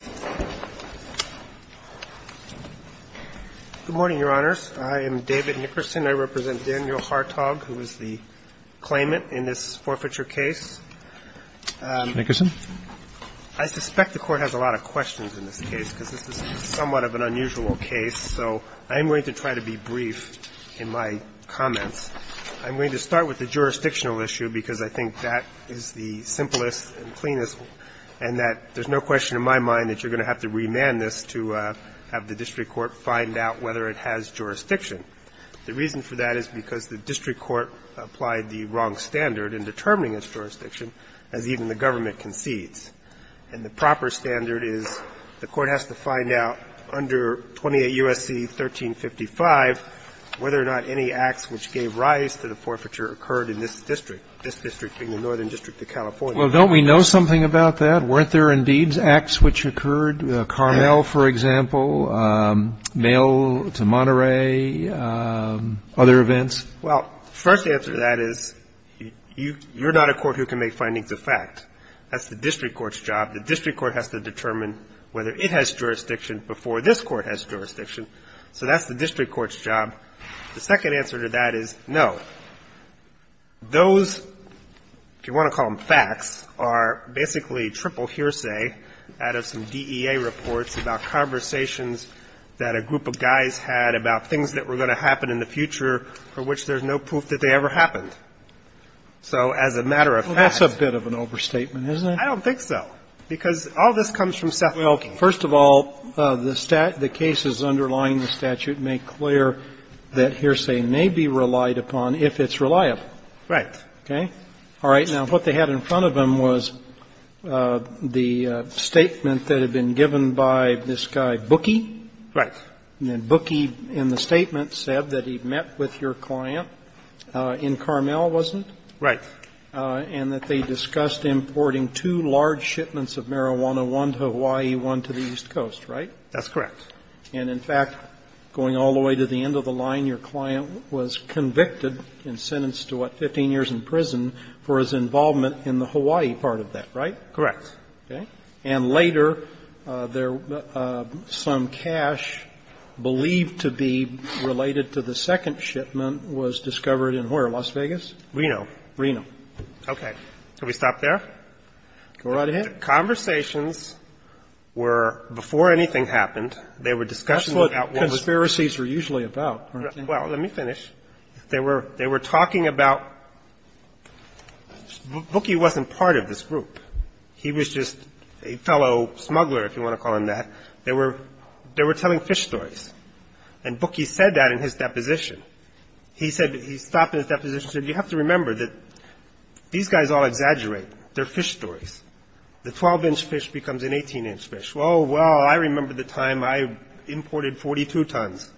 Good morning, Your Honors. I am David Nickerson. I represent Daniel Hertog, who is the claimant in this forfeiture case. Nickerson? I suspect the Court has a lot of questions in this case, because this is somewhat of an unusual case. So I am going to try to be brief in my comments. I am going to start with the jurisdictional issue, because I think that is the simplest and cleanest, and that there is no question in my mind that you are going to have to remand this to have the district court find out whether it has jurisdiction. The reason for that is because the district court applied the wrong standard in determining its jurisdiction, as even the government concedes. And the proper standard is the court has to find out under 28 U.S.C. 1355 whether or not any acts which gave rise to the forfeiture occurred in this district, this district being the Northern District of California. Well, don't we know something about that? Weren't there, indeed, acts which occurred? Carmel, for example, mail to Monterey, other events? Well, first answer to that is you are not a court who can make findings of fact. That's the district court's job. The district court has to determine whether it has jurisdiction before this court has jurisdiction. So that's the district court's job. The second answer to that is no. Those, if you want to call them facts, are basically triple hearsay out of some DEA reports about conversations that a group of guys had about things that were going to happen in the future for which there's no proof that they ever happened. So as a matter of fact… Well, that's a bit of an overstatement, isn't it? I don't think so, because all this comes from Seth Wilking. First of all, the cases underlying the statute make clear that hearsay may be relied upon if it's reliable. Right. Okay? All right. Now, what they had in front of them was the statement that had been given by this guy Bookie. Right. And then Bookie, in the statement, said that he met with your client in Carmel, wasn't it? Right. And that they discussed importing two large shipments of marijuana, one to Hawaii, one to the East Coast, right? That's correct. And in fact, going all the way to the end of the line, your client was convicted and sentenced to, what, 15 years in prison for his involvement in the Hawaii part of that, right? Correct. Okay. And later, there was some cash believed to be related to the second shipment was discovered in where? Las Vegas? Reno. Reno. Okay. Can we stop there? Go right ahead. Conversations were, before anything happened, they were discussing what outlawed was doing. That's what conspiracies are usually about, aren't they? Well, let me finish. They were talking about – Bookie wasn't part of this group. He was just a fellow smuggler, if you want to call him that. They were telling fish stories. And Bookie said that in his deposition. He said – he stopped in his deposition and said, you have to remember that these guys all exaggerate. They're fish stories. The 12-inch fish becomes an 18-inch fish. Oh, well, I remember the time I imported 42 tons.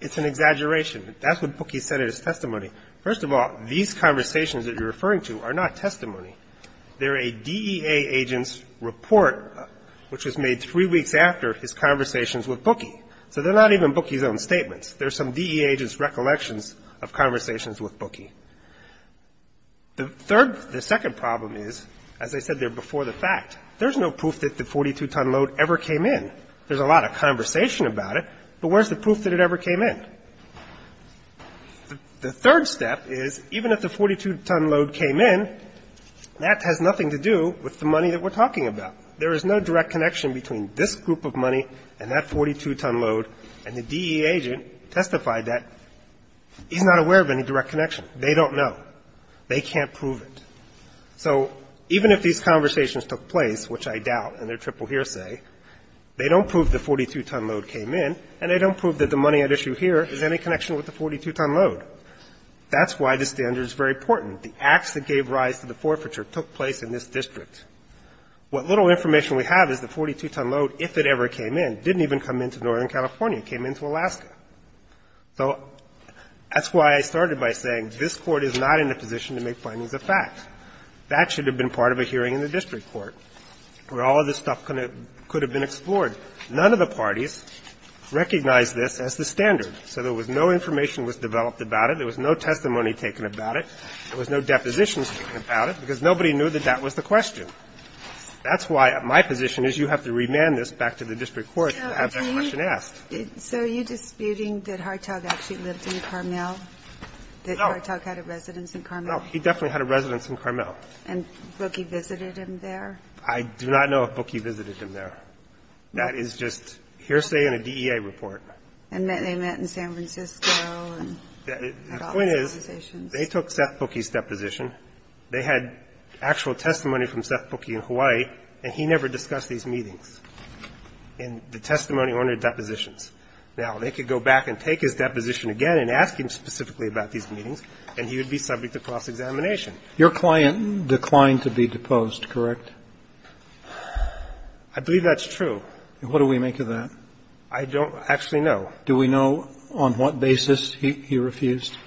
It's an exaggeration. That's what Bookie said in his testimony. First of all, these conversations that you're referring to are not testimony. They're a DEA agent's report, which was made three weeks after his conversations with Bookie. So they're not even Bookie's own statements. They're some DEA agent's recollections of conversations with Bookie. The third – the second problem is, as I said there before the fact, there's no proof that the 42-ton load ever came in. There's a lot of conversation about it, but where's the proof that it ever came in? The third step is, even if the 42-ton load came in, that has nothing to do with the money that we're talking about. There is no direct connection between this group of money and that 42-ton load and the DEA agent testified that he's not aware of any direct connection. They don't know. They can't prove it. So even if these conversations took place, which I doubt, and they're triple hearsay, they don't prove the 42-ton load came in and they don't prove that the money at issue here is any connection with the 42-ton load. That's why this standard is very important. The acts that gave rise to the forfeiture took place in this district. What little information we have is the 42-ton load, if it ever came in, and it didn't even come into Northern California. It came into Alaska. So that's why I started by saying this Court is not in a position to make findings of facts. That should have been part of a hearing in the district court where all of this stuff could have been explored. None of the parties recognized this as the standard. So there was no information that was developed about it. There was no testimony taken about it. There was no depositions taken about it, because nobody knew that that was the question. That's why my position is you have to remand this back to the district court and have that question asked. Ginsburg-Miller So are you disputing that Hartog actually lived in Carmel, that Hartog had a residence in Carmel? Wessler No. He definitely had a residence in Carmel. Ginsburg-Miller And Bookie visited him there? Wessler I do not know if Bookie visited him there. That is just hearsay and a DEA report. Ginsburg-Miller And they met in San Francisco and had all these conversations. Wessler The point is, they took Seth Bookie's deposition. They had actual testimony from Seth Bookie in Hawaii, and he never discussed these meetings. And the testimony on their depositions. Now, they could go back and take his deposition again and ask him specifically about these meetings, and he would be subject to cross-examination. Kennedy Your client declined to be deposed, correct? Wessler I believe that's true. Kennedy And what do we make of that? Wessler I don't actually know. Kennedy Do we know on what basis he refused? Wessler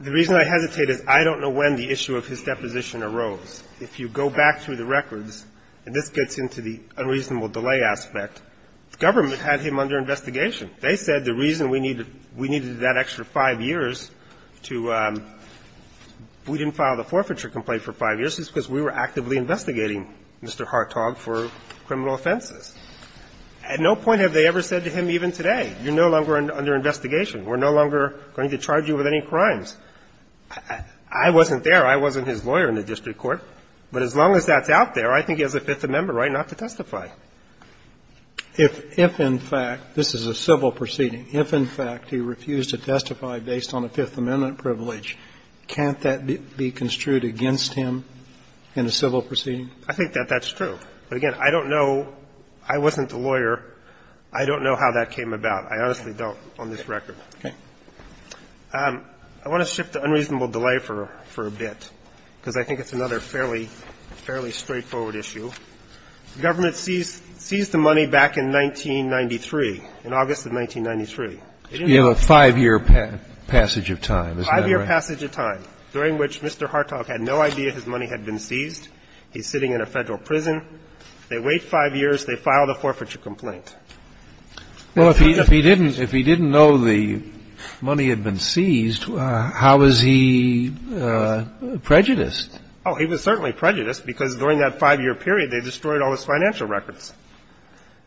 The reason I hesitate is I don't know when the issue of his deposition arose. If you go back through the records, and this gets into the unreasonable delay aspect, the government had him under investigation. They said the reason we needed that extra five years to we didn't file the forfeiture complaint for five years is because we were actively investigating Mr. Hartog for criminal offenses. At no point have they ever said to him even today, you're no longer under investigation. We're no longer going to charge you with any crimes. I wasn't there. I wasn't his lawyer in the district court. But as long as that's out there, I think he has a Fifth Amendment right not to testify. Kennedy If in fact, this is a civil proceeding, if in fact he refused to testify based on a Fifth Amendment privilege, can't that be construed against him in a civil proceeding? Wessler I think that that's true. But again, I don't know. I wasn't the lawyer. I don't know how that came about. I honestly don't on this record. Okay. I want to shift to unreasonable delay for a bit, because I think it's another fairly straightforward issue. The government seized the money back in 1993, in August of 1993. Roberts You have a five-year passage of time. Wessler Five-year passage of time, during which Mr. Hartog had no idea his money had been seized. He's sitting in a Federal prison. They wait five years. They file the forfeiture complaint. Kennedy Well, if he didn't know the money had been seized, how was he prejudiced? Wessler Oh, he was certainly prejudiced, because during that five-year period, they destroyed all his financial records.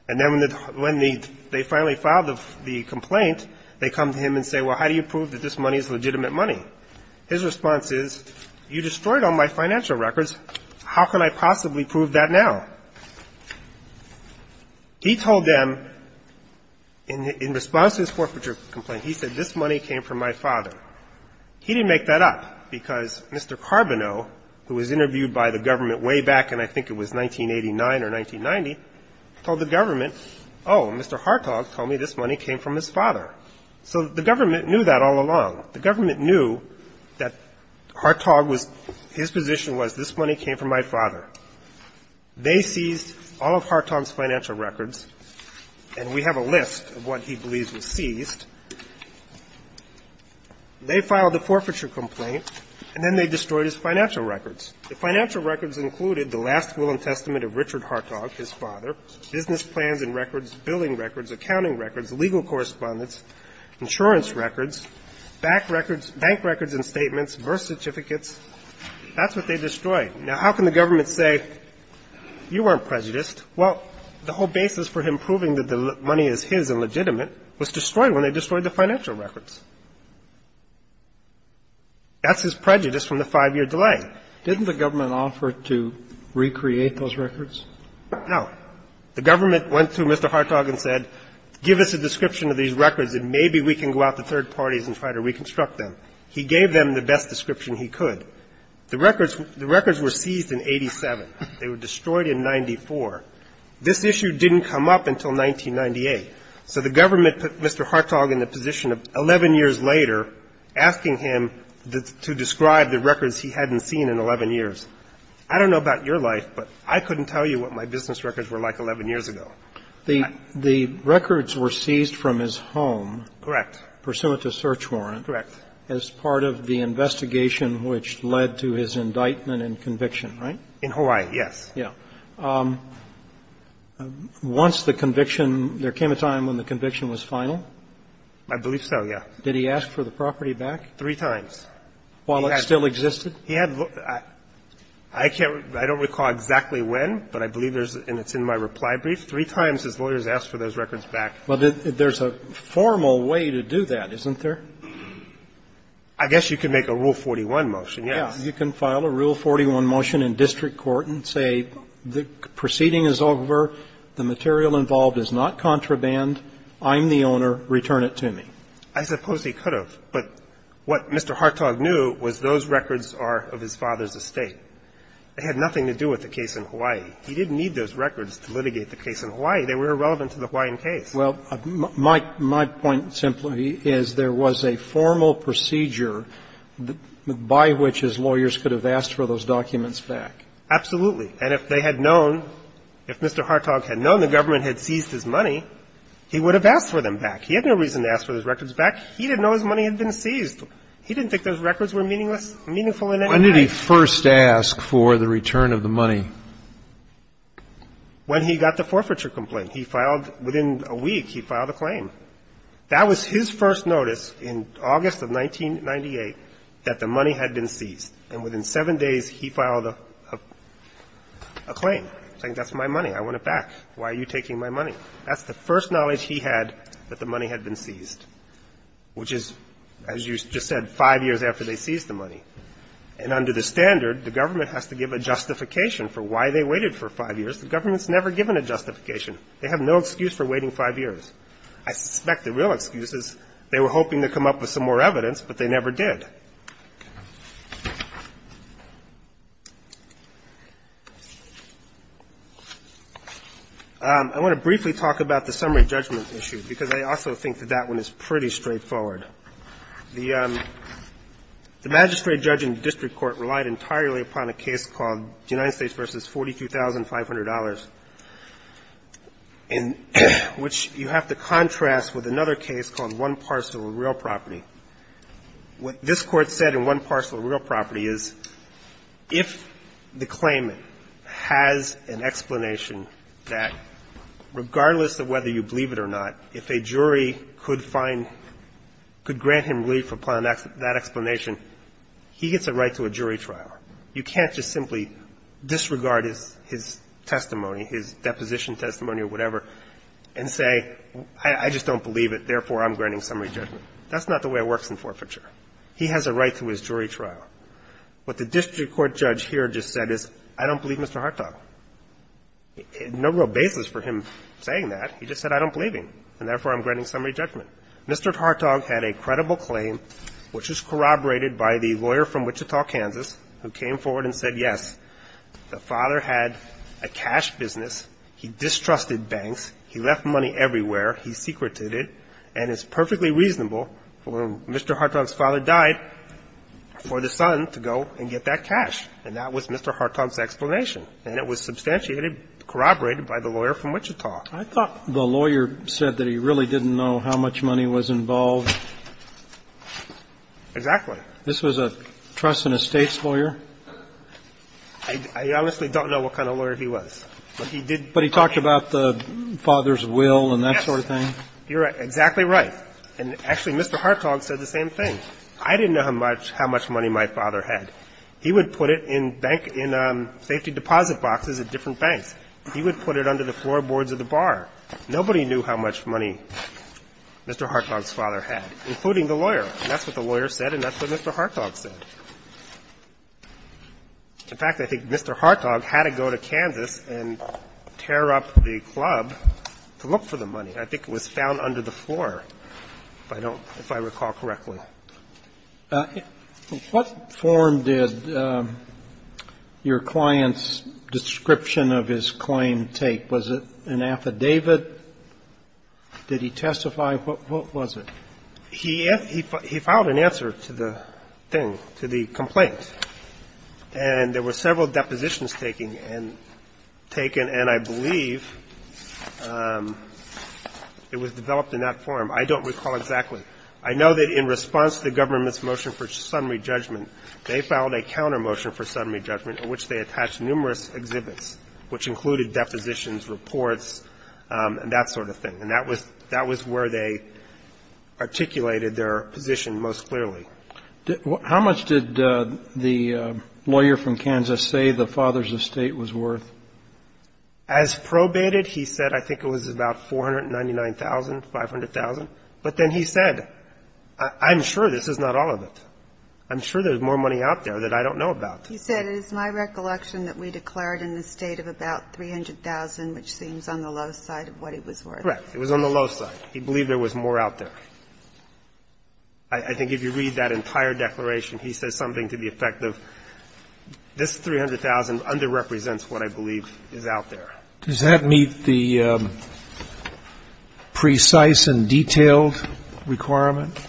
And then when they finally filed the complaint, they come to him and say, well, how do you prove that this money is legitimate money? His response is, you destroyed all my financial records. How can I possibly prove that now? He told them, in response to his forfeiture complaint, he said, this money came from my father. He didn't make that up, because Mr. Carboneau, who was interviewed by the government way back in, I think it was 1989 or 1990, told the government, oh, Mr. Hartog told me this money came from his father. So the government knew that all along. The government knew that Hartog was his position was, this money came from my father. They seized all of Hartog's financial records, and we have a list of what he believes was seized. They filed a forfeiture complaint, and then they destroyed his financial records. The financial records included the last will and testament of Richard Hartog, his father, business plans and records, billing records, accounting records, legal correspondence, insurance records, bank records and statements, birth certificates. That's what they destroyed. Now, how can the government say, you weren't prejudiced? Well, the whole basis for him proving that the money is his and legitimate was destroyed when they destroyed the financial records. That's his prejudice from the five-year delay. Didn't the government offer to recreate those records? No. The government went to Mr. Hartog and said, give us a description of these records, and maybe we can go out to third parties and try to reconstruct them. He gave them the best description he could. The records were seized in 87. They were destroyed in 94. This issue didn't come up until 1998. So the government put Mr. Hartog in the position of 11 years later asking him to describe the records he hadn't seen in 11 years. I don't know about your life, but I couldn't tell you what my business records were like 11 years ago. The records were seized from his home. Correct. Pursuant to search warrant. Correct. As part of the investigation which led to his indictment and conviction, right? In Hawaii, yes. Yeah. Once the conviction ñ there came a time when the conviction was final? I believe so, yeah. Did he ask for the property back? Three times. While it still existed? He had ñ I can't ñ I don't recall exactly when, but I believe there's ñ and it's in my reply brief. Three times his lawyers asked for those records back. Well, there's a formal way to do that, isn't there? I guess you could make a Rule 41 motion, yes. Yeah. You can file a Rule 41 motion in district court and say the proceeding is over, the material involved is not contraband, I'm the owner, return it to me. I suppose he could have. But what Mr. Hartog knew was those records are of his father's estate. They had nothing to do with the case in Hawaii. He didn't need those records to litigate the case in Hawaii. They were irrelevant to the Hawaiian case. Well, my point simply is there was a formal procedure by which his lawyers could have asked for those documents back. Absolutely. And if they had known, if Mr. Hartog had known the government had seized his money, he would have asked for them back. He had no reason to ask for those records back. He didn't know his money had been seized. He didn't think those records were meaningless, meaningful in any way. When did he first ask for the return of the money? When he got the forfeiture complaint. He filed, within a week, he filed a claim. That was his first notice in August of 1998 that the money had been seized. And within seven days, he filed a claim, saying that's my money, I want it back. Why are you taking my money? That's the first knowledge he had that the money had been seized, which is, as you just said, five years after they seized the money. And under the standard, the government has to give a justification for why they waited for five years. The government's never given a justification. They have no excuse for waiting five years. I suspect the real excuse is they were hoping to come up with some more evidence, but they never did. I want to briefly talk about the summary judgment issue, because I also think that that one is pretty straightforward. The magistrate judge in the district court relied entirely upon a case called United States v. $42,500. And which you have to contrast with another case called One Parcel of Real Property. What this court said in One Parcel of Real Property is if the claimant has an explanation that, regardless of whether you believe it or not, if a jury could find, could grant him relief upon that explanation, he gets a right to a jury trial. You can't just simply disregard his testimony, his deposition testimony or whatever, and say, I just don't believe it, therefore, I'm granting summary judgment. That's not the way it works in forfeiture. He has a right to his jury trial. What the district court judge here just said is, I don't believe Mr. Hartog. No real basis for him saying that. He just said, I don't believe him, and therefore, I'm granting summary judgment. Mr. Hartog had a credible claim, which was corroborated by the lawyer from Wichita, Kansas, who came forward and said, yes, the father had a cash business, he distrusted banks, he left money everywhere, he secreted it, and it's perfectly reasonable when Mr. Hartog's father died for the son to go and get that cash. And that was Mr. Hartog's explanation. And it was substantiated, corroborated by the lawyer from Wichita. I thought the lawyer said that he really didn't know how much money was involved. Exactly. This was a trust and estates lawyer? I honestly don't know what kind of lawyer he was. But he did ---- But he talked about the father's will and that sort of thing? Yes. You're exactly right. And actually, Mr. Hartog said the same thing. I didn't know how much money my father had. He would put it in bank ---- in safety deposit boxes at different banks. He would put it under the floorboards of the bar. Nobody knew how much money Mr. Hartog's father had, including the lawyer. And that's what the lawyer said, and that's what Mr. Hartog said. In fact, I think Mr. Hartog had to go to Kansas and tear up the club to look for the money. I think it was found under the floor, if I don't ---- if I recall correctly. What form did your client's description of his claim take? Was it an affidavit? Did he testify? What was it? He filed an answer to the thing, to the complaint. And there were several depositions taken, and I believe it was developed in that form. I don't recall exactly. I know that in response to the government's motion for summary judgment, they filed a counter motion for summary judgment in which they attached numerous exhibits, which included depositions, reports, and that sort of thing. And that was where they articulated their position most clearly. How much did the lawyer from Kansas say the father's estate was worth? As probated, he said I think it was about $499,000, $500,000. But then he said, I'm sure this is not all of it. I'm sure there's more money out there that I don't know about. He said, it is my recollection that we declared an estate of about $300,000, which seems on the low side of what it was worth. Correct. It was on the low side. He believed there was more out there. I think if you read that entire declaration, he says something to the effect of this $300,000 underrepresents what I believe is out there. Does that meet the precise and detailed requirement?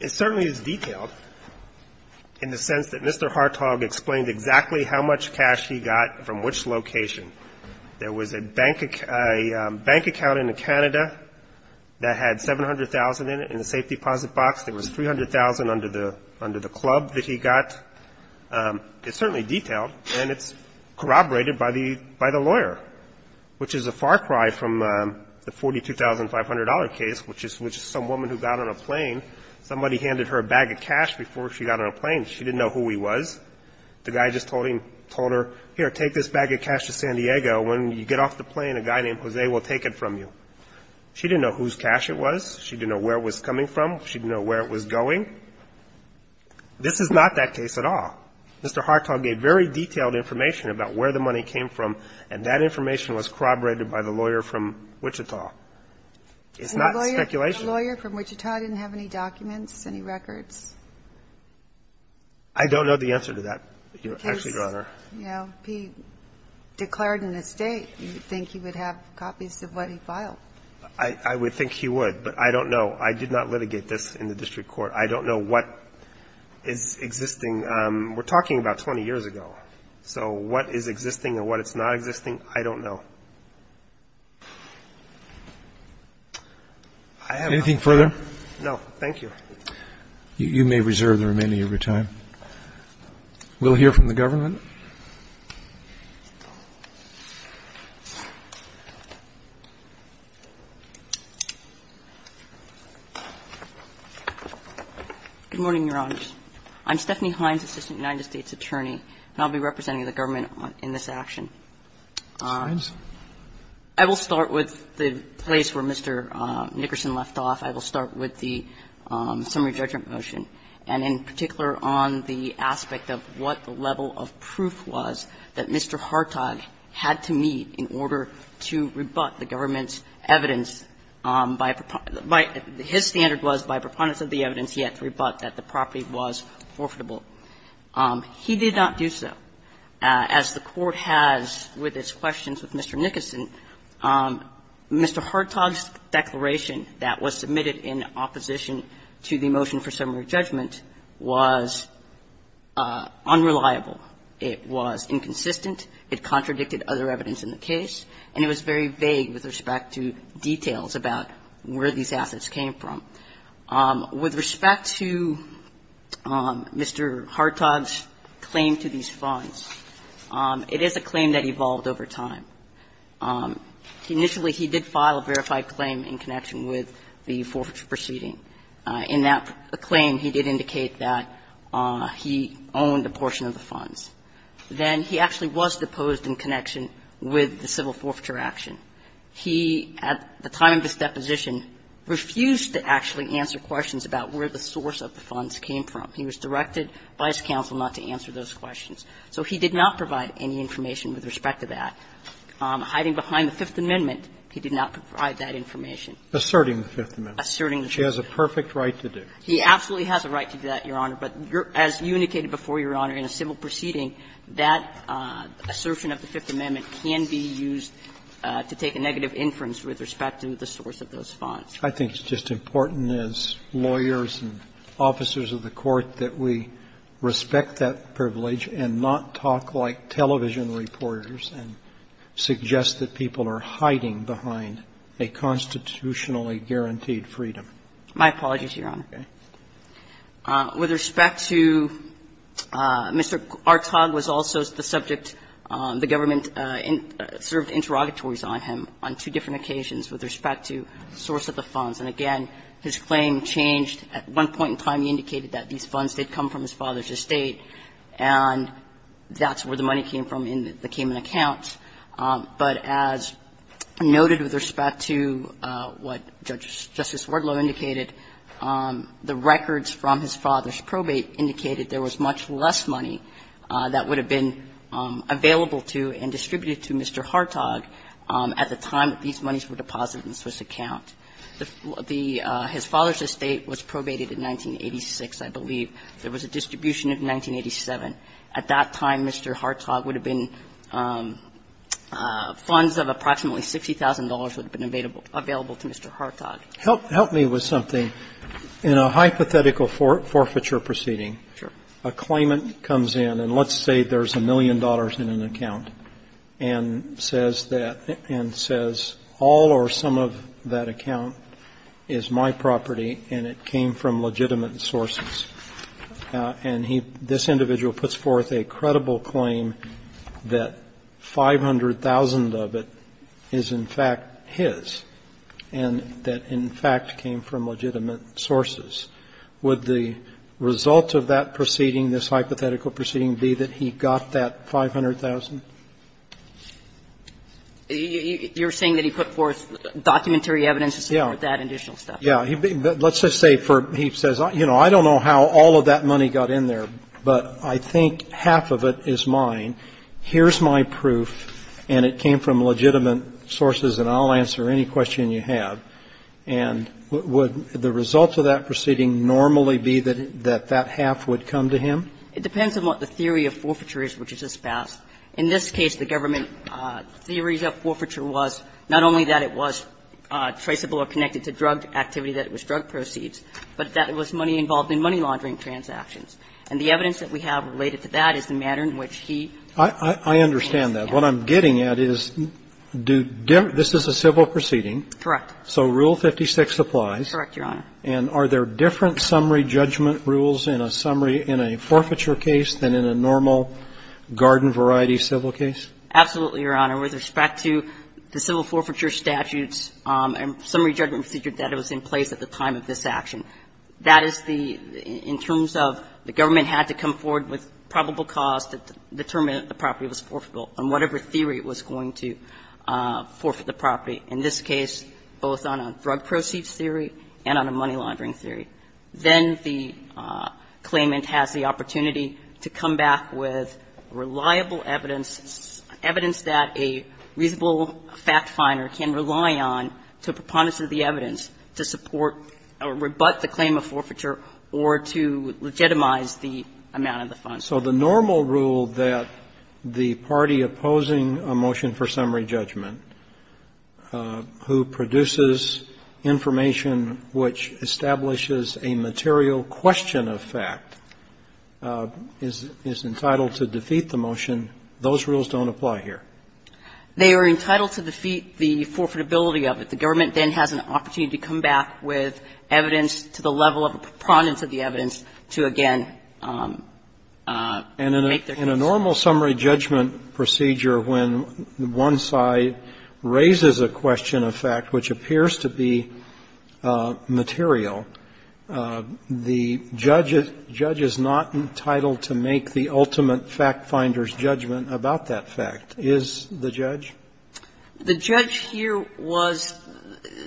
It certainly is detailed in the sense that Mr. Hartog explained exactly how much location. There was a bank account in Canada that had $700,000 in the safe deposit box. There was $300,000 under the club that he got. It's certainly detailed, and it's corroborated by the lawyer, which is a far cry from the $42,500 case, which is some woman who got on a plane. Somebody handed her a bag of cash before she got on a plane. She didn't know who he was. The guy just told her, here, take this bag of cash to San Diego. When you get off the plane, a guy named Jose will take it from you. She didn't know whose cash it was. She didn't know where it was coming from. She didn't know where it was going. This is not that case at all. Mr. Hartog gave very detailed information about where the money came from, and that information was corroborated by the lawyer from Wichita. It's not speculation. The lawyer from Wichita didn't have any documents, any records? I don't know the answer to that, Your Honor. If he declared an estate, do you think he would have copies of what he filed? I would think he would, but I don't know. I did not litigate this in the district court. I don't know what is existing. We're talking about 20 years ago. So what is existing and what is not existing, I don't know. Anything further? No, thank you. You may reserve the remaining of your time. We'll hear from the government. Good morning, Your Honors. I'm Stephanie Hines, Assistant United States Attorney, and I'll be representing the government in this action. Hines? I will start with the place where Mr. Nickerson left off. I will start with the summary judgment motion, and in particular on the aspect of what the level of proof was that Mr. Hartog had to meet in order to rebut the government's evidence by his standard was, by preponderance of the evidence, he had to rebut that the property was forfeitable. He did not do so. As the Court has with its questions with Mr. Nickerson, Mr. Hartog's declaration that was submitted in opposition to the motion for summary judgment was unreliable. It was inconsistent. It contradicted other evidence in the case, and it was very vague with respect to details about where these assets came from. With respect to Mr. Hartog's claim to these funds, it is a claim that evolved over time. Initially, he did file a verified claim in connection with the forfeiture proceeding. In that claim, he did indicate that he owned a portion of the funds. Then he actually was deposed in connection with the civil forfeiture action. He, at the time of his deposition, refused to actually answer questions about where the source of the funds came from. He was directed by his counsel not to answer those questions. So he did not provide any information with respect to that. Hiding behind the Fifth Amendment, he did not provide that information. Asserting the Fifth Amendment. Asserting the Fifth Amendment. He has a perfect right to do that. He absolutely has a right to do that, Your Honor. But as you indicated before, Your Honor, in a civil proceeding, that assertion of the Fifth Amendment can be used to take a negative inference with respect to the source of those funds. I think it's just important as lawyers and officers of the Court that we respect that privilege and not talk like television reporters and suggest that people are hiding behind a constitutionally guaranteed freedom. My apologies, Your Honor. With respect to Mr. Artog, was also the subject the government served interrogatories on him on two different occasions with respect to the source of the funds. And, again, his claim changed at one point in time. He indicated that these funds did come from his father's estate. And that's where the money came from in the Cayman accounts. But as noted with respect to what Justice Wardlow indicated, the records from his father's probate indicated there was much less money that would have been available to and distributed to Mr. Artog at the time that these monies were deposited in the Swiss account. The his father's estate was probated in 1986, I believe. There was a distribution in 1987. At that time, Mr. Artog would have been funds of approximately $60,000 would have been available to Mr. Artog. Help me with something. In a hypothetical forfeiture proceeding, a claimant comes in, and let's say there's a million dollars in an account, and says that all or some of that account is my property and it came from legitimate sources. And he, this individual, puts forth a credible claim that 500,000 of it is, in fact, his and that, in fact, came from legitimate sources. Would the result of that proceeding, this hypothetical proceeding, be that he got that 500,000? You're saying that he put forth documentary evidence to support that additional stuff? Yeah. Let's just say for, he says, you know, I don't know how all of that money got in there, but I think half of it is mine. Here's my proof, and it came from legitimate sources, and I'll answer any question you have. And would the result of that proceeding normally be that that half would come to him? It depends on what the theory of forfeiture is, which is his past. In this case, the government theory of forfeiture was not only that it was traceable or connected to drug activity, that it was drug proceeds, but that it was money involved in money-laundering transactions. And the evidence that we have related to that is the manner in which he hands it down. I understand that. What I'm getting at is, this is a civil proceeding. Correct. So Rule 56 applies. Correct, Your Honor. And are there different summary judgment rules in a summary, in a forfeiture case than in a normal garden-variety civil case? Absolutely, Your Honor. With respect to the civil forfeiture statutes and summary judgment procedure that was in place at the time of this action, that is the – in terms of the government had to come forward with probable cause to determine that the property was forfeitable on whatever theory it was going to forfeit the property, in this case, both on a drug proceeds theory and on a money-laundering theory. Then the claimant has the opportunity to come back with reliable evidence, evidence that a reasonable fact-finder can rely on to proponents of the evidence to support or rebut the claim of forfeiture or to legitimize the amount of the funds. So the normal rule that the party opposing a motion for summary judgment who produces information which establishes a material question of fact is entitled to defeat the motion, those rules don't apply here? They are entitled to defeat the forfeitability of it. The government then has an opportunity to come back with evidence to the level of a proponent of the evidence to, again, make their case. And in a normal summary judgment procedure, when one side raises a question of fact which appears to be material, the judge is not entitled to make the ultimate fact-finder's judgment about that fact, is the judge? The judge here was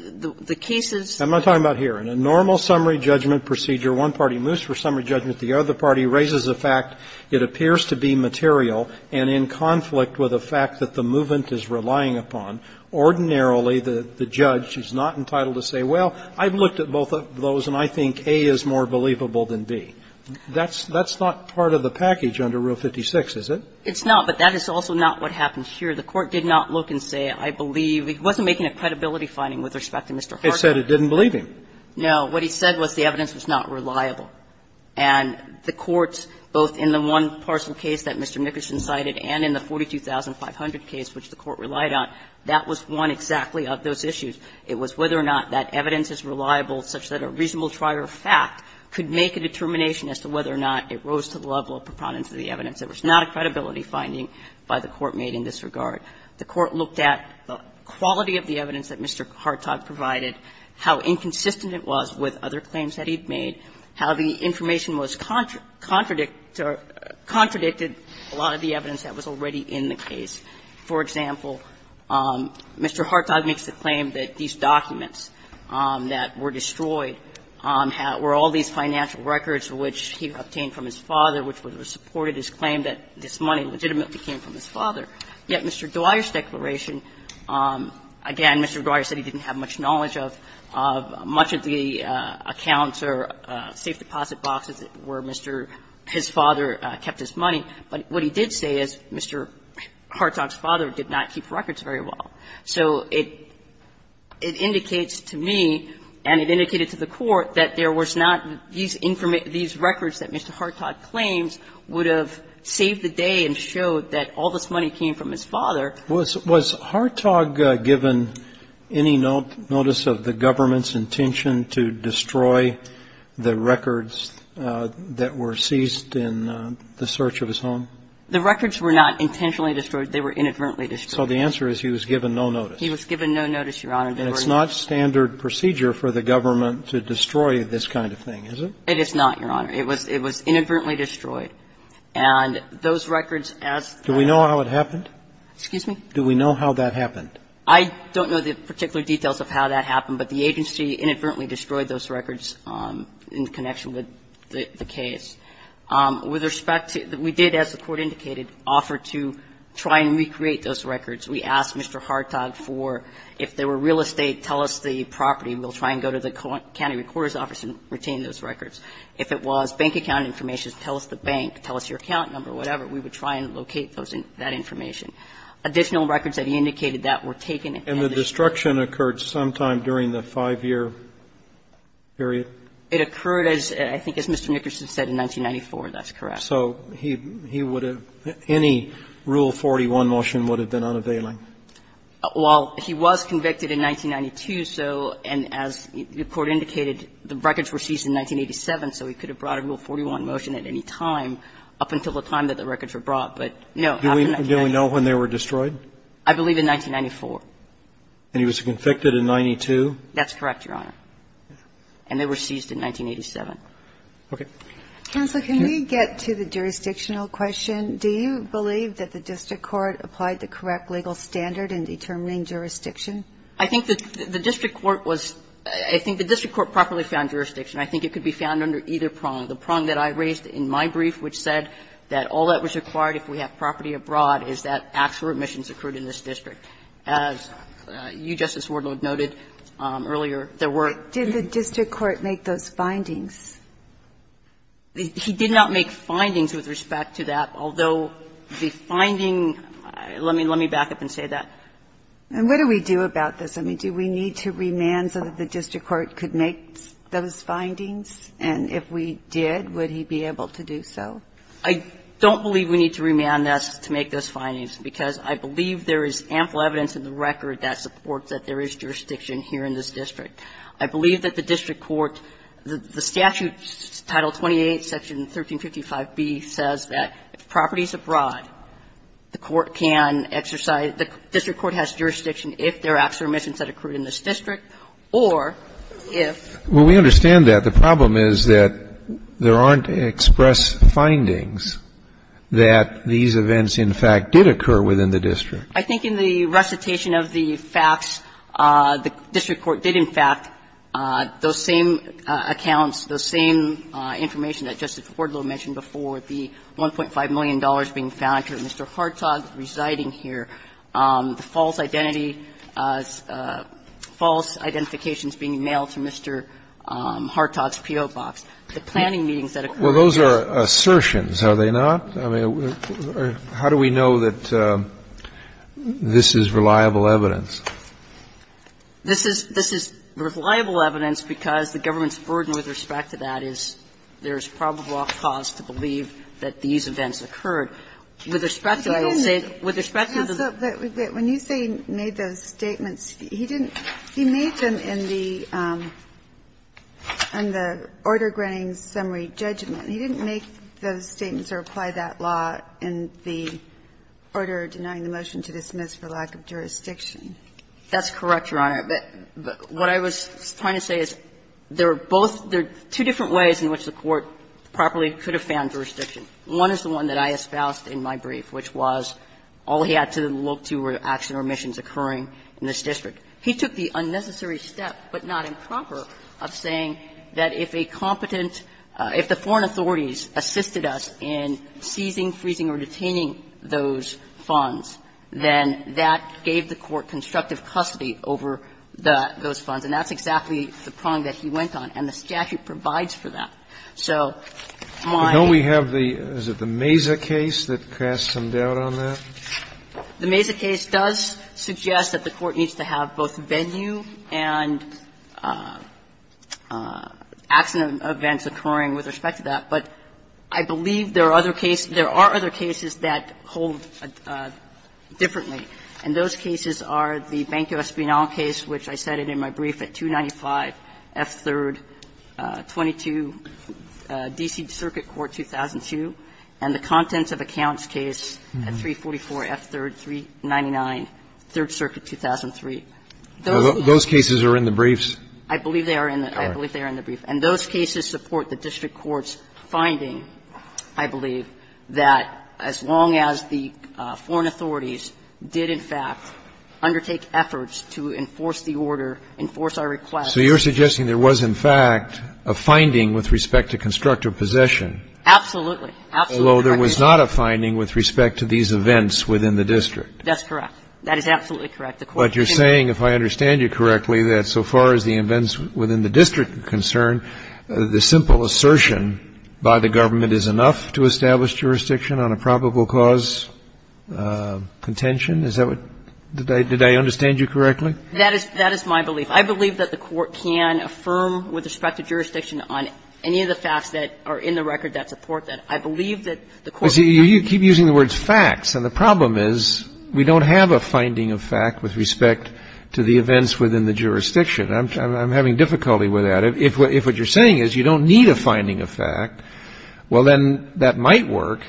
the case's ---- I'm not talking about here. In a normal summary judgment procedure, one party moves for summary judgment. The other party raises a fact. It appears to be material and in conflict with a fact that the movement is relying upon. Ordinarily, the judge is not entitled to say, well, I've looked at both of those and I think A is more believable than B. That's not part of the package under Rule 56, is it? It's not, but that is also not what happens here. The Court did not look and say, I believe he wasn't making a credibility finding with respect to Mr. Harkin. It said it didn't believe him. No. What he said was the evidence was not reliable. And the courts, both in the one parcel case that Mr. Nickerson cited and in the 42500 case which the Court relied on, that was one exactly of those issues. It was whether or not that evidence is reliable such that a reasonable trier of fact could make a determination as to whether or not it rose to the level of preponderance of the evidence. It was not a credibility finding by the Court made in this regard. The Court looked at the quality of the evidence that Mr. Hartog provided, how inconsistent it was with other claims that he'd made, how the information was contradicted to a lot of the evidence that was already in the case. For example, Mr. Hartog makes the claim that these documents that were destroyed were all these financial records which he obtained from his father, which supported his claim that this money legitimately came from his father. Yet Mr. Dwyer's declaration, again, Mr. Dwyer said he didn't have much knowledge of much of the accounts or safe deposit boxes where Mr. his father kept his money. But what he did say is Mr. Hartog's father did not keep records very well. So it indicates to me and it indicated to the Court that there was not these records that Mr. Hartog claims would have saved the day and showed that all this money came from his father. Was Hartog given any notice of the government's intention to destroy the records that were seized in the search of his home? The records were not intentionally destroyed. They were inadvertently destroyed. So the answer is he was given no notice. He was given no notice, Your Honor. And it's not standard procedure for the government to destroy this kind of thing, is it? It is not, Your Honor. It was inadvertently destroyed. And those records, as the others did, were not intentionally destroyed. Do we know how it happened? Excuse me? Do we know how that happened? I don't know the particular details of how that happened, but the agency inadvertently destroyed those records in connection with the case. With respect to the question, we did, as the Court indicated, offer to try and recreate those records. We asked Mr. Hartog for, if they were real estate, tell us the property. We'll try and go to the county recorder's office and retain those records. If it was bank account information, tell us the bank, tell us your account number, whatever. We would try and locate those and that information. Additional records that he indicated that were taken in connection with the case. And the destruction occurred sometime during the 5-year period? It occurred, I think, as Mr. Nickerson said, in 1994. That's correct. So he would have any Rule 41 motion would have been unavailing? Well, he was convicted in 1992, so and as the Court indicated, the records were seized in 1987, so he could have brought a Rule 41 motion at any time up until the time that the records were brought. But no. Do we know when they were destroyed? I believe in 1994. And he was convicted in 92? That's correct, Your Honor. And they were seized in 1987. Okay. Counsel, can we get to the jurisdictional question? Do you believe that the district court applied the correct legal standard in determining jurisdiction? I think the district court was – I think the district court properly found jurisdiction. I think it could be found under either prong. The prong that I raised in my brief, which said that all that was required if we have property abroad is that actual remissions occurred in this district. As you, Justice Wardlaw, noted earlier, there were – Did the district court make those findings? He did not make findings with respect to that, although the finding – let me back up and say that. And what do we do about this? I mean, do we need to remand so that the district court could make those findings? And if we did, would he be able to do so? I don't believe we need to remand this to make those findings, because I believe there is ample evidence in the record that supports that there is jurisdiction here in this district. I believe that the district court – the statute, Title 28, Section 1355B, says that if property is abroad, the court can exercise – the district court has jurisdiction if there are actual remissions that occurred in this district or if – Well, we understand that. The problem is that there aren't express findings that these events, in fact, did occur within the district. I think in the recitation of the facts, the district court did, in fact, those same accounts, those same information that Justice Wardlow mentioned before, the $1.5 million being found to Mr. Hartog's residing here, the false identity – false identifications being mailed to Mr. Hartog's P.O. box. The planning meetings that occurred in this district – Well, those are assertions, are they not? I mean, how do we know that this is reliable evidence? This is – this is reliable evidence because the government's burden with respect to that is there is probable cause to believe that these events occurred. With respect to the state – with respect to the – But when you say he made those statements, he didn't – he made them in the – in the order granting summary judgment. He didn't make those statements or apply that law in the order denying the motion to dismiss for lack of jurisdiction. That's correct, Your Honor. But what I was trying to say is there are both – there are two different ways in which the court properly could have found jurisdiction. One is the one that I espoused in my brief, which was all he had to look to were action or omissions occurring in this district. He took the unnecessary step, but not improper, of saying that if a competent – if the foreign authorities assisted us in seizing, freezing, or detaining those funds, then that gave the court constructive custody over the – those funds. And that's exactly the prong that he went on, and the statute provides for that. So my – But don't we have the – is it the Mesa case that casts some doubt on that? The Mesa case does suggest that the court needs to have both venue and accident events occurring with respect to that. But I believe there are other cases – there are other cases that hold differently. And those cases are the Banco Espinal case, which I cited in my brief, at 295 F. 3rd, 22, D.C. Circuit Court, 2002, and the contents of accounts case at 344 F. 3rd, 399, 3rd Circuit, 2003. Those cases are in the briefs. I believe they are in the – I believe they are in the brief. And those cases support the district court's finding, I believe, that as long as the foreign authorities did, in fact, undertake efforts to enforce the order, enforce our requests. So you're suggesting there was, in fact, a finding with respect to constructive possession. Absolutely. Absolutely. Although there was not a finding with respect to these events within the district. That's correct. That is absolutely correct. The court did not – But you're saying, if I understand you correctly, that so far as the events within the district are concerned, the simple assertion by the government is enough to establish jurisdiction on a probable cause contention? Is that what – did I understand you correctly? That is my belief. I believe that the court can affirm with respect to jurisdiction on any of the facts that are in the record that support that. I believe that the court can affirm that. You see, you keep using the words facts, and the problem is we don't have a finding of fact with respect to the events within the jurisdiction. I'm having difficulty with that. If what you're saying is you don't need a finding of fact, well, then that might work,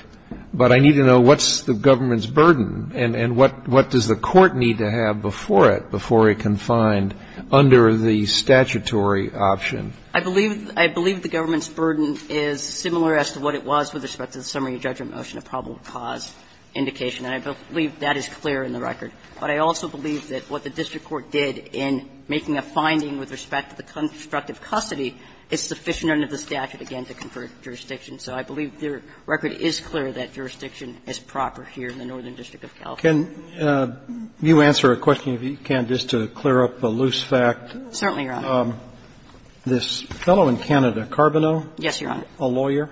but I need to know what's the government's burden and what does the court need to have before it, before it can find under the statutory option. I believe the government's burden is similar as to what it was with respect to the summary judgment motion of probable cause indication, and I believe that is clear in the record. But I also believe that what the district court did in making a finding with respect to the constructive custody is sufficient under the statute, again, to confer jurisdiction. So I believe the record is clear that jurisdiction is proper here in the Northern District of California. Roberts. You answer a question if you can, just to clear up a loose fact. Certainly, Your Honor. This fellow in Canada, Carboneau? Yes, Your Honor. A lawyer?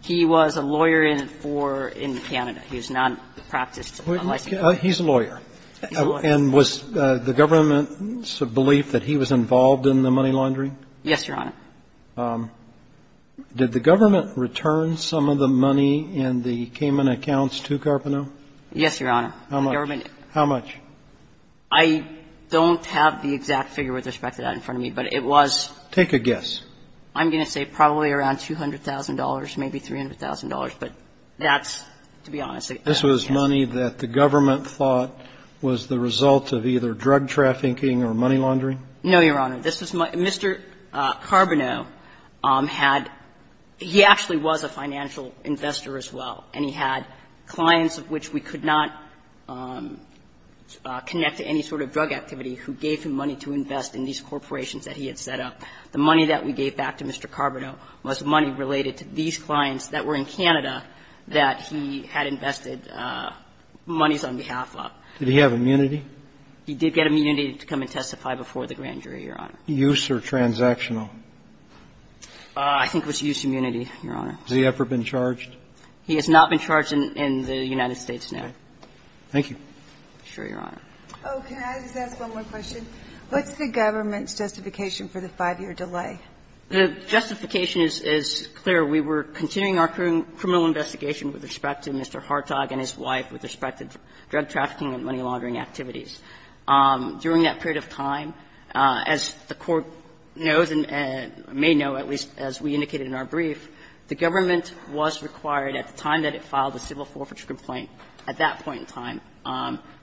He was a lawyer in for – in Canada. He was not a practiced lawyer. He's a lawyer. And was the government's belief that he was involved in the money laundering? Yes, Your Honor. Did the government return some of the money in the Cayman accounts to Carboneau? Yes, Your Honor. How much? How much? I don't have the exact figure with respect to that in front of me, but it was – Take a guess. I'm going to say probably around $200,000, maybe $300,000, but that's, to be honest, a guess. This was money that the government thought was the result of either drug trafficking or money laundering? No, Your Honor. This was – Mr. Carboneau had – he actually was a financial investor as well, and he had clients of which we could not connect to any sort of drug activity who gave him money to invest in these corporations that he had set up. The money that we gave back to Mr. Carboneau was money related to these clients that were in Canada that he had invested monies on behalf of. Did he have immunity? He did get immunity to come and testify before the grand jury, Your Honor. Use or transactional? I think it was use immunity, Your Honor. Has he ever been charged? He has not been charged in the United States, no. Thank you. Sure, Your Honor. Oh, can I just ask one more question? What's the government's justification for the 5-year delay? The justification is clear. We were continuing our criminal investigation with respect to Mr. Hartog and his wife with respect to drug trafficking and money laundering activities. During that period of time, as the Court knows and may know, at least as we indicated in our brief, the government was required at the time that it filed the civil forfeiture complaint, at that point in time,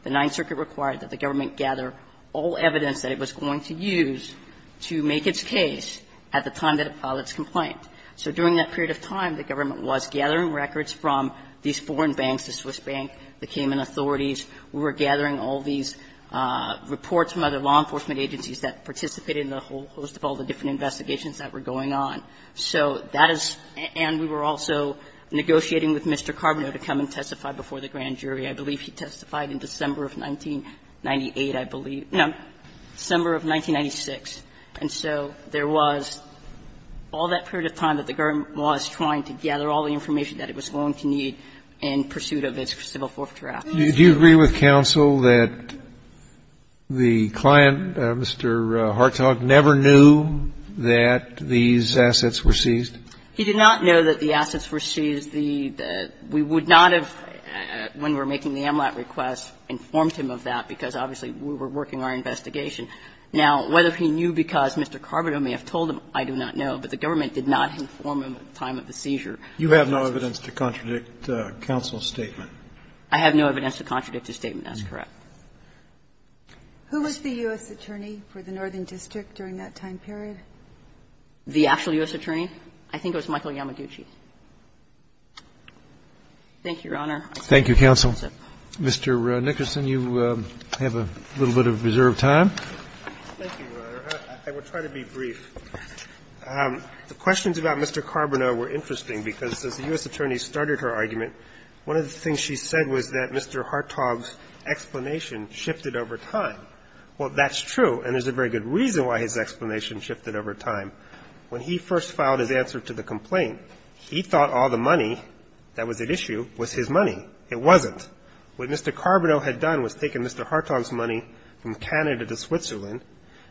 the Ninth Circuit required that the government gather all evidence that it was going to use to make its case at the time that it filed its complaint. So during that period of time, the government was gathering records from these foreign banks, the Swiss bank, the Cayman authorities. We were gathering all these reports from other law enforcement agencies that participated in the whole host of all the different investigations that were going on. So that is – and we were also negotiating with Mr. Carboneau to come and testify before the grand jury. I believe he testified in December of 1998, I believe. No, December of 1996. And so there was all that period of time that the government was trying to gather all the information that it was going to need in pursuit of its civil forfeiture action. Do you agree with counsel that the client, Mr. Hartog, never knew that these assets were seized? He did not know that the assets were seized. We would not have, when we were making the AMLAT request, informed him of that, because, obviously, we were working our investigation. Now, whether he knew because Mr. Carboneau may have told him, I do not know. But the government did not inform him at the time of the seizure. You have no evidence to contradict counsel's statement. I have no evidence to contradict his statement. That's correct. Who was the U.S. attorney for the Northern District during that time period? The actual U.S. attorney? I think it was Michael Yamaguchi. Thank you, Your Honor. Thank you, counsel. Mr. Nickerson, you have a little bit of reserved time. Thank you, Your Honor. I will try to be brief. The questions about Mr. Carboneau were interesting because, since the U.S. attorney started her argument, one of the things she said was that Mr. Hartog's explanation shifted over time. Well, that's true, and there's a very good reason why his explanation shifted over time. When he first filed his answer to the complaint, he thought all the money that was at issue was his money. It wasn't. What Mr. Carboneau had done was taken Mr. Hartog's money from Canada to Switzerland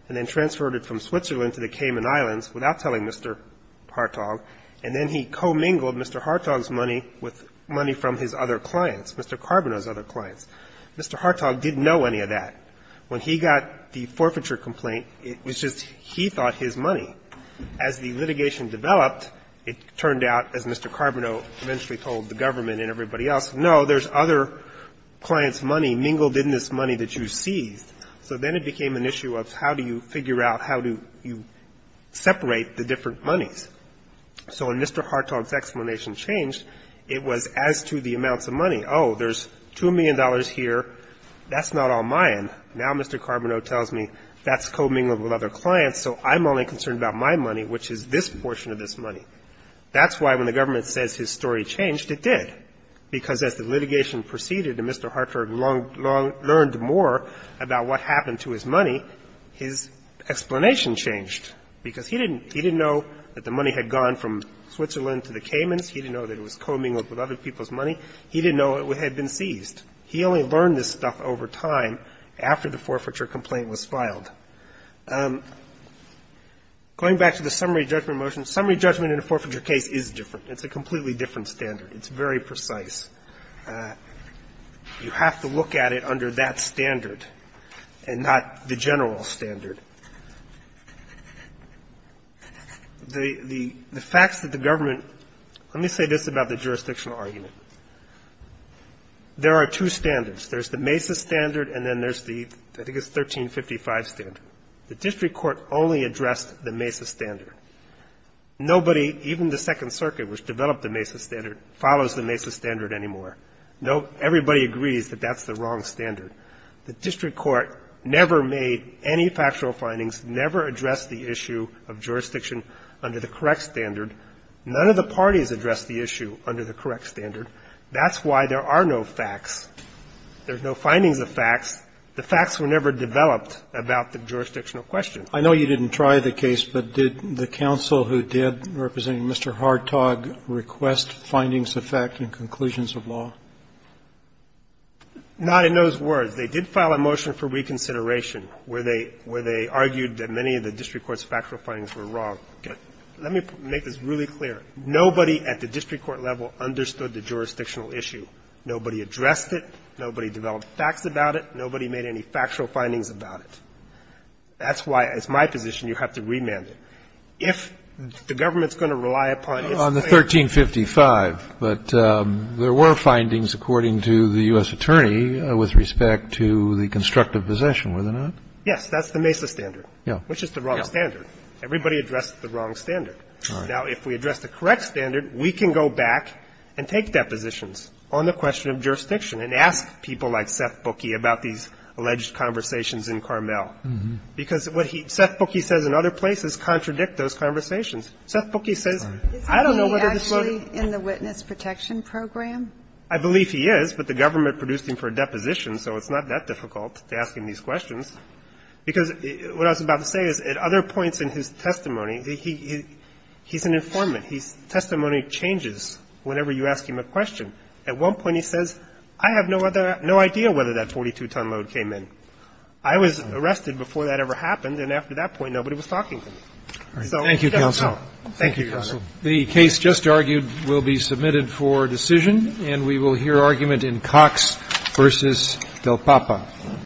and then transferred it from Switzerland to the Cayman Islands without telling Mr. Hartog, and then he commingled Mr. Hartog's money with money from his other clients, Mr. Carboneau's other clients. Mr. Hartog didn't know any of that. When he got the forfeiture complaint, it was just he thought his money was his money. As the litigation developed, it turned out, as Mr. Carboneau eventually told the government and everybody else, no, there's other clients' money mingled in this money that you seized. So then it became an issue of how do you figure out how do you separate the different monies. So when Mr. Hartog's explanation changed, it was as to the amounts of money. Oh, there's $2 million here. That's not all mine. Now Mr. Carboneau tells me that's commingled with other clients, so I'm only concerned about my money, which is this portion of this money. That's why when the government says his story changed, it did, because as the litigation proceeded and Mr. Hartog learned more about what happened to his money, his explanation changed, because he didn't know that the money had gone from Switzerland to the Caymans. He didn't know that it was commingled with other people's money. He didn't know it had been seized. He only learned this stuff over time after the forfeiture complaint was filed. Going back to the summary judgment motion, summary judgment in a forfeiture case is different. It's a completely different standard. It's very precise. You have to look at it under that standard and not the general standard. The facts that the government – let me say this about the jurisdictional argument. There are two standards. There's the Mesa standard and then there's the – I think it's the 1355 standard. The district court only addressed the Mesa standard. Nobody, even the Second Circuit, which developed the Mesa standard, follows the Mesa standard anymore. Nobody agrees that that's the wrong standard. The district court never made any factual findings, never addressed the issue of jurisdiction under the correct standard. None of the parties addressed the issue under the correct standard. That's why there are no facts. There's no findings of facts. The facts were never developed about the jurisdictional question. Roberts. I know you didn't try the case, but did the counsel who did, representing Mr. Hartog, request findings of fact and conclusions of law? Not in those words. They did file a motion for reconsideration where they argued that many of the district court's factual findings were wrong. Let me make this really clear. Nobody at the district court level understood the jurisdictional issue. Nobody addressed it. Nobody developed facts about it. Nobody made any factual findings about it. That's why, as my position, you have to remand it. If the government's going to rely upon its claim to the court to do that, it's going to be a failure. On the 1355, but there were findings, according to the U.S. attorney, with respect to the constructive possession, were there not? Yes. That's the Mesa standard. Yeah. Which is the wrong standard. Everybody addressed the wrong standard. Now, if we address the correct standard, we can go back and take depositions on the question of jurisdiction and ask people like Seth Bookie about these alleged conversations in Carmel. Because what he – Seth Bookie says in other places contradict those conversations. Seth Bookie says, I don't know whether this lawyer – Isn't he actually in the Witness Protection Program? I believe he is, but the government produced him for a deposition, so it's not that difficult to ask him these questions. Because what I was about to say is, at other points in his testimony, he's an informant. His testimony changes whenever you ask him a question. At one point, he says, I have no other – no idea whether that 22-ton load came in. I was arrested before that ever happened, and after that point, nobody was talking to me. So he doesn't know. Thank you, counsel. The case just argued will be submitted for decision, and we will hear argument in Cox v. Del Papa.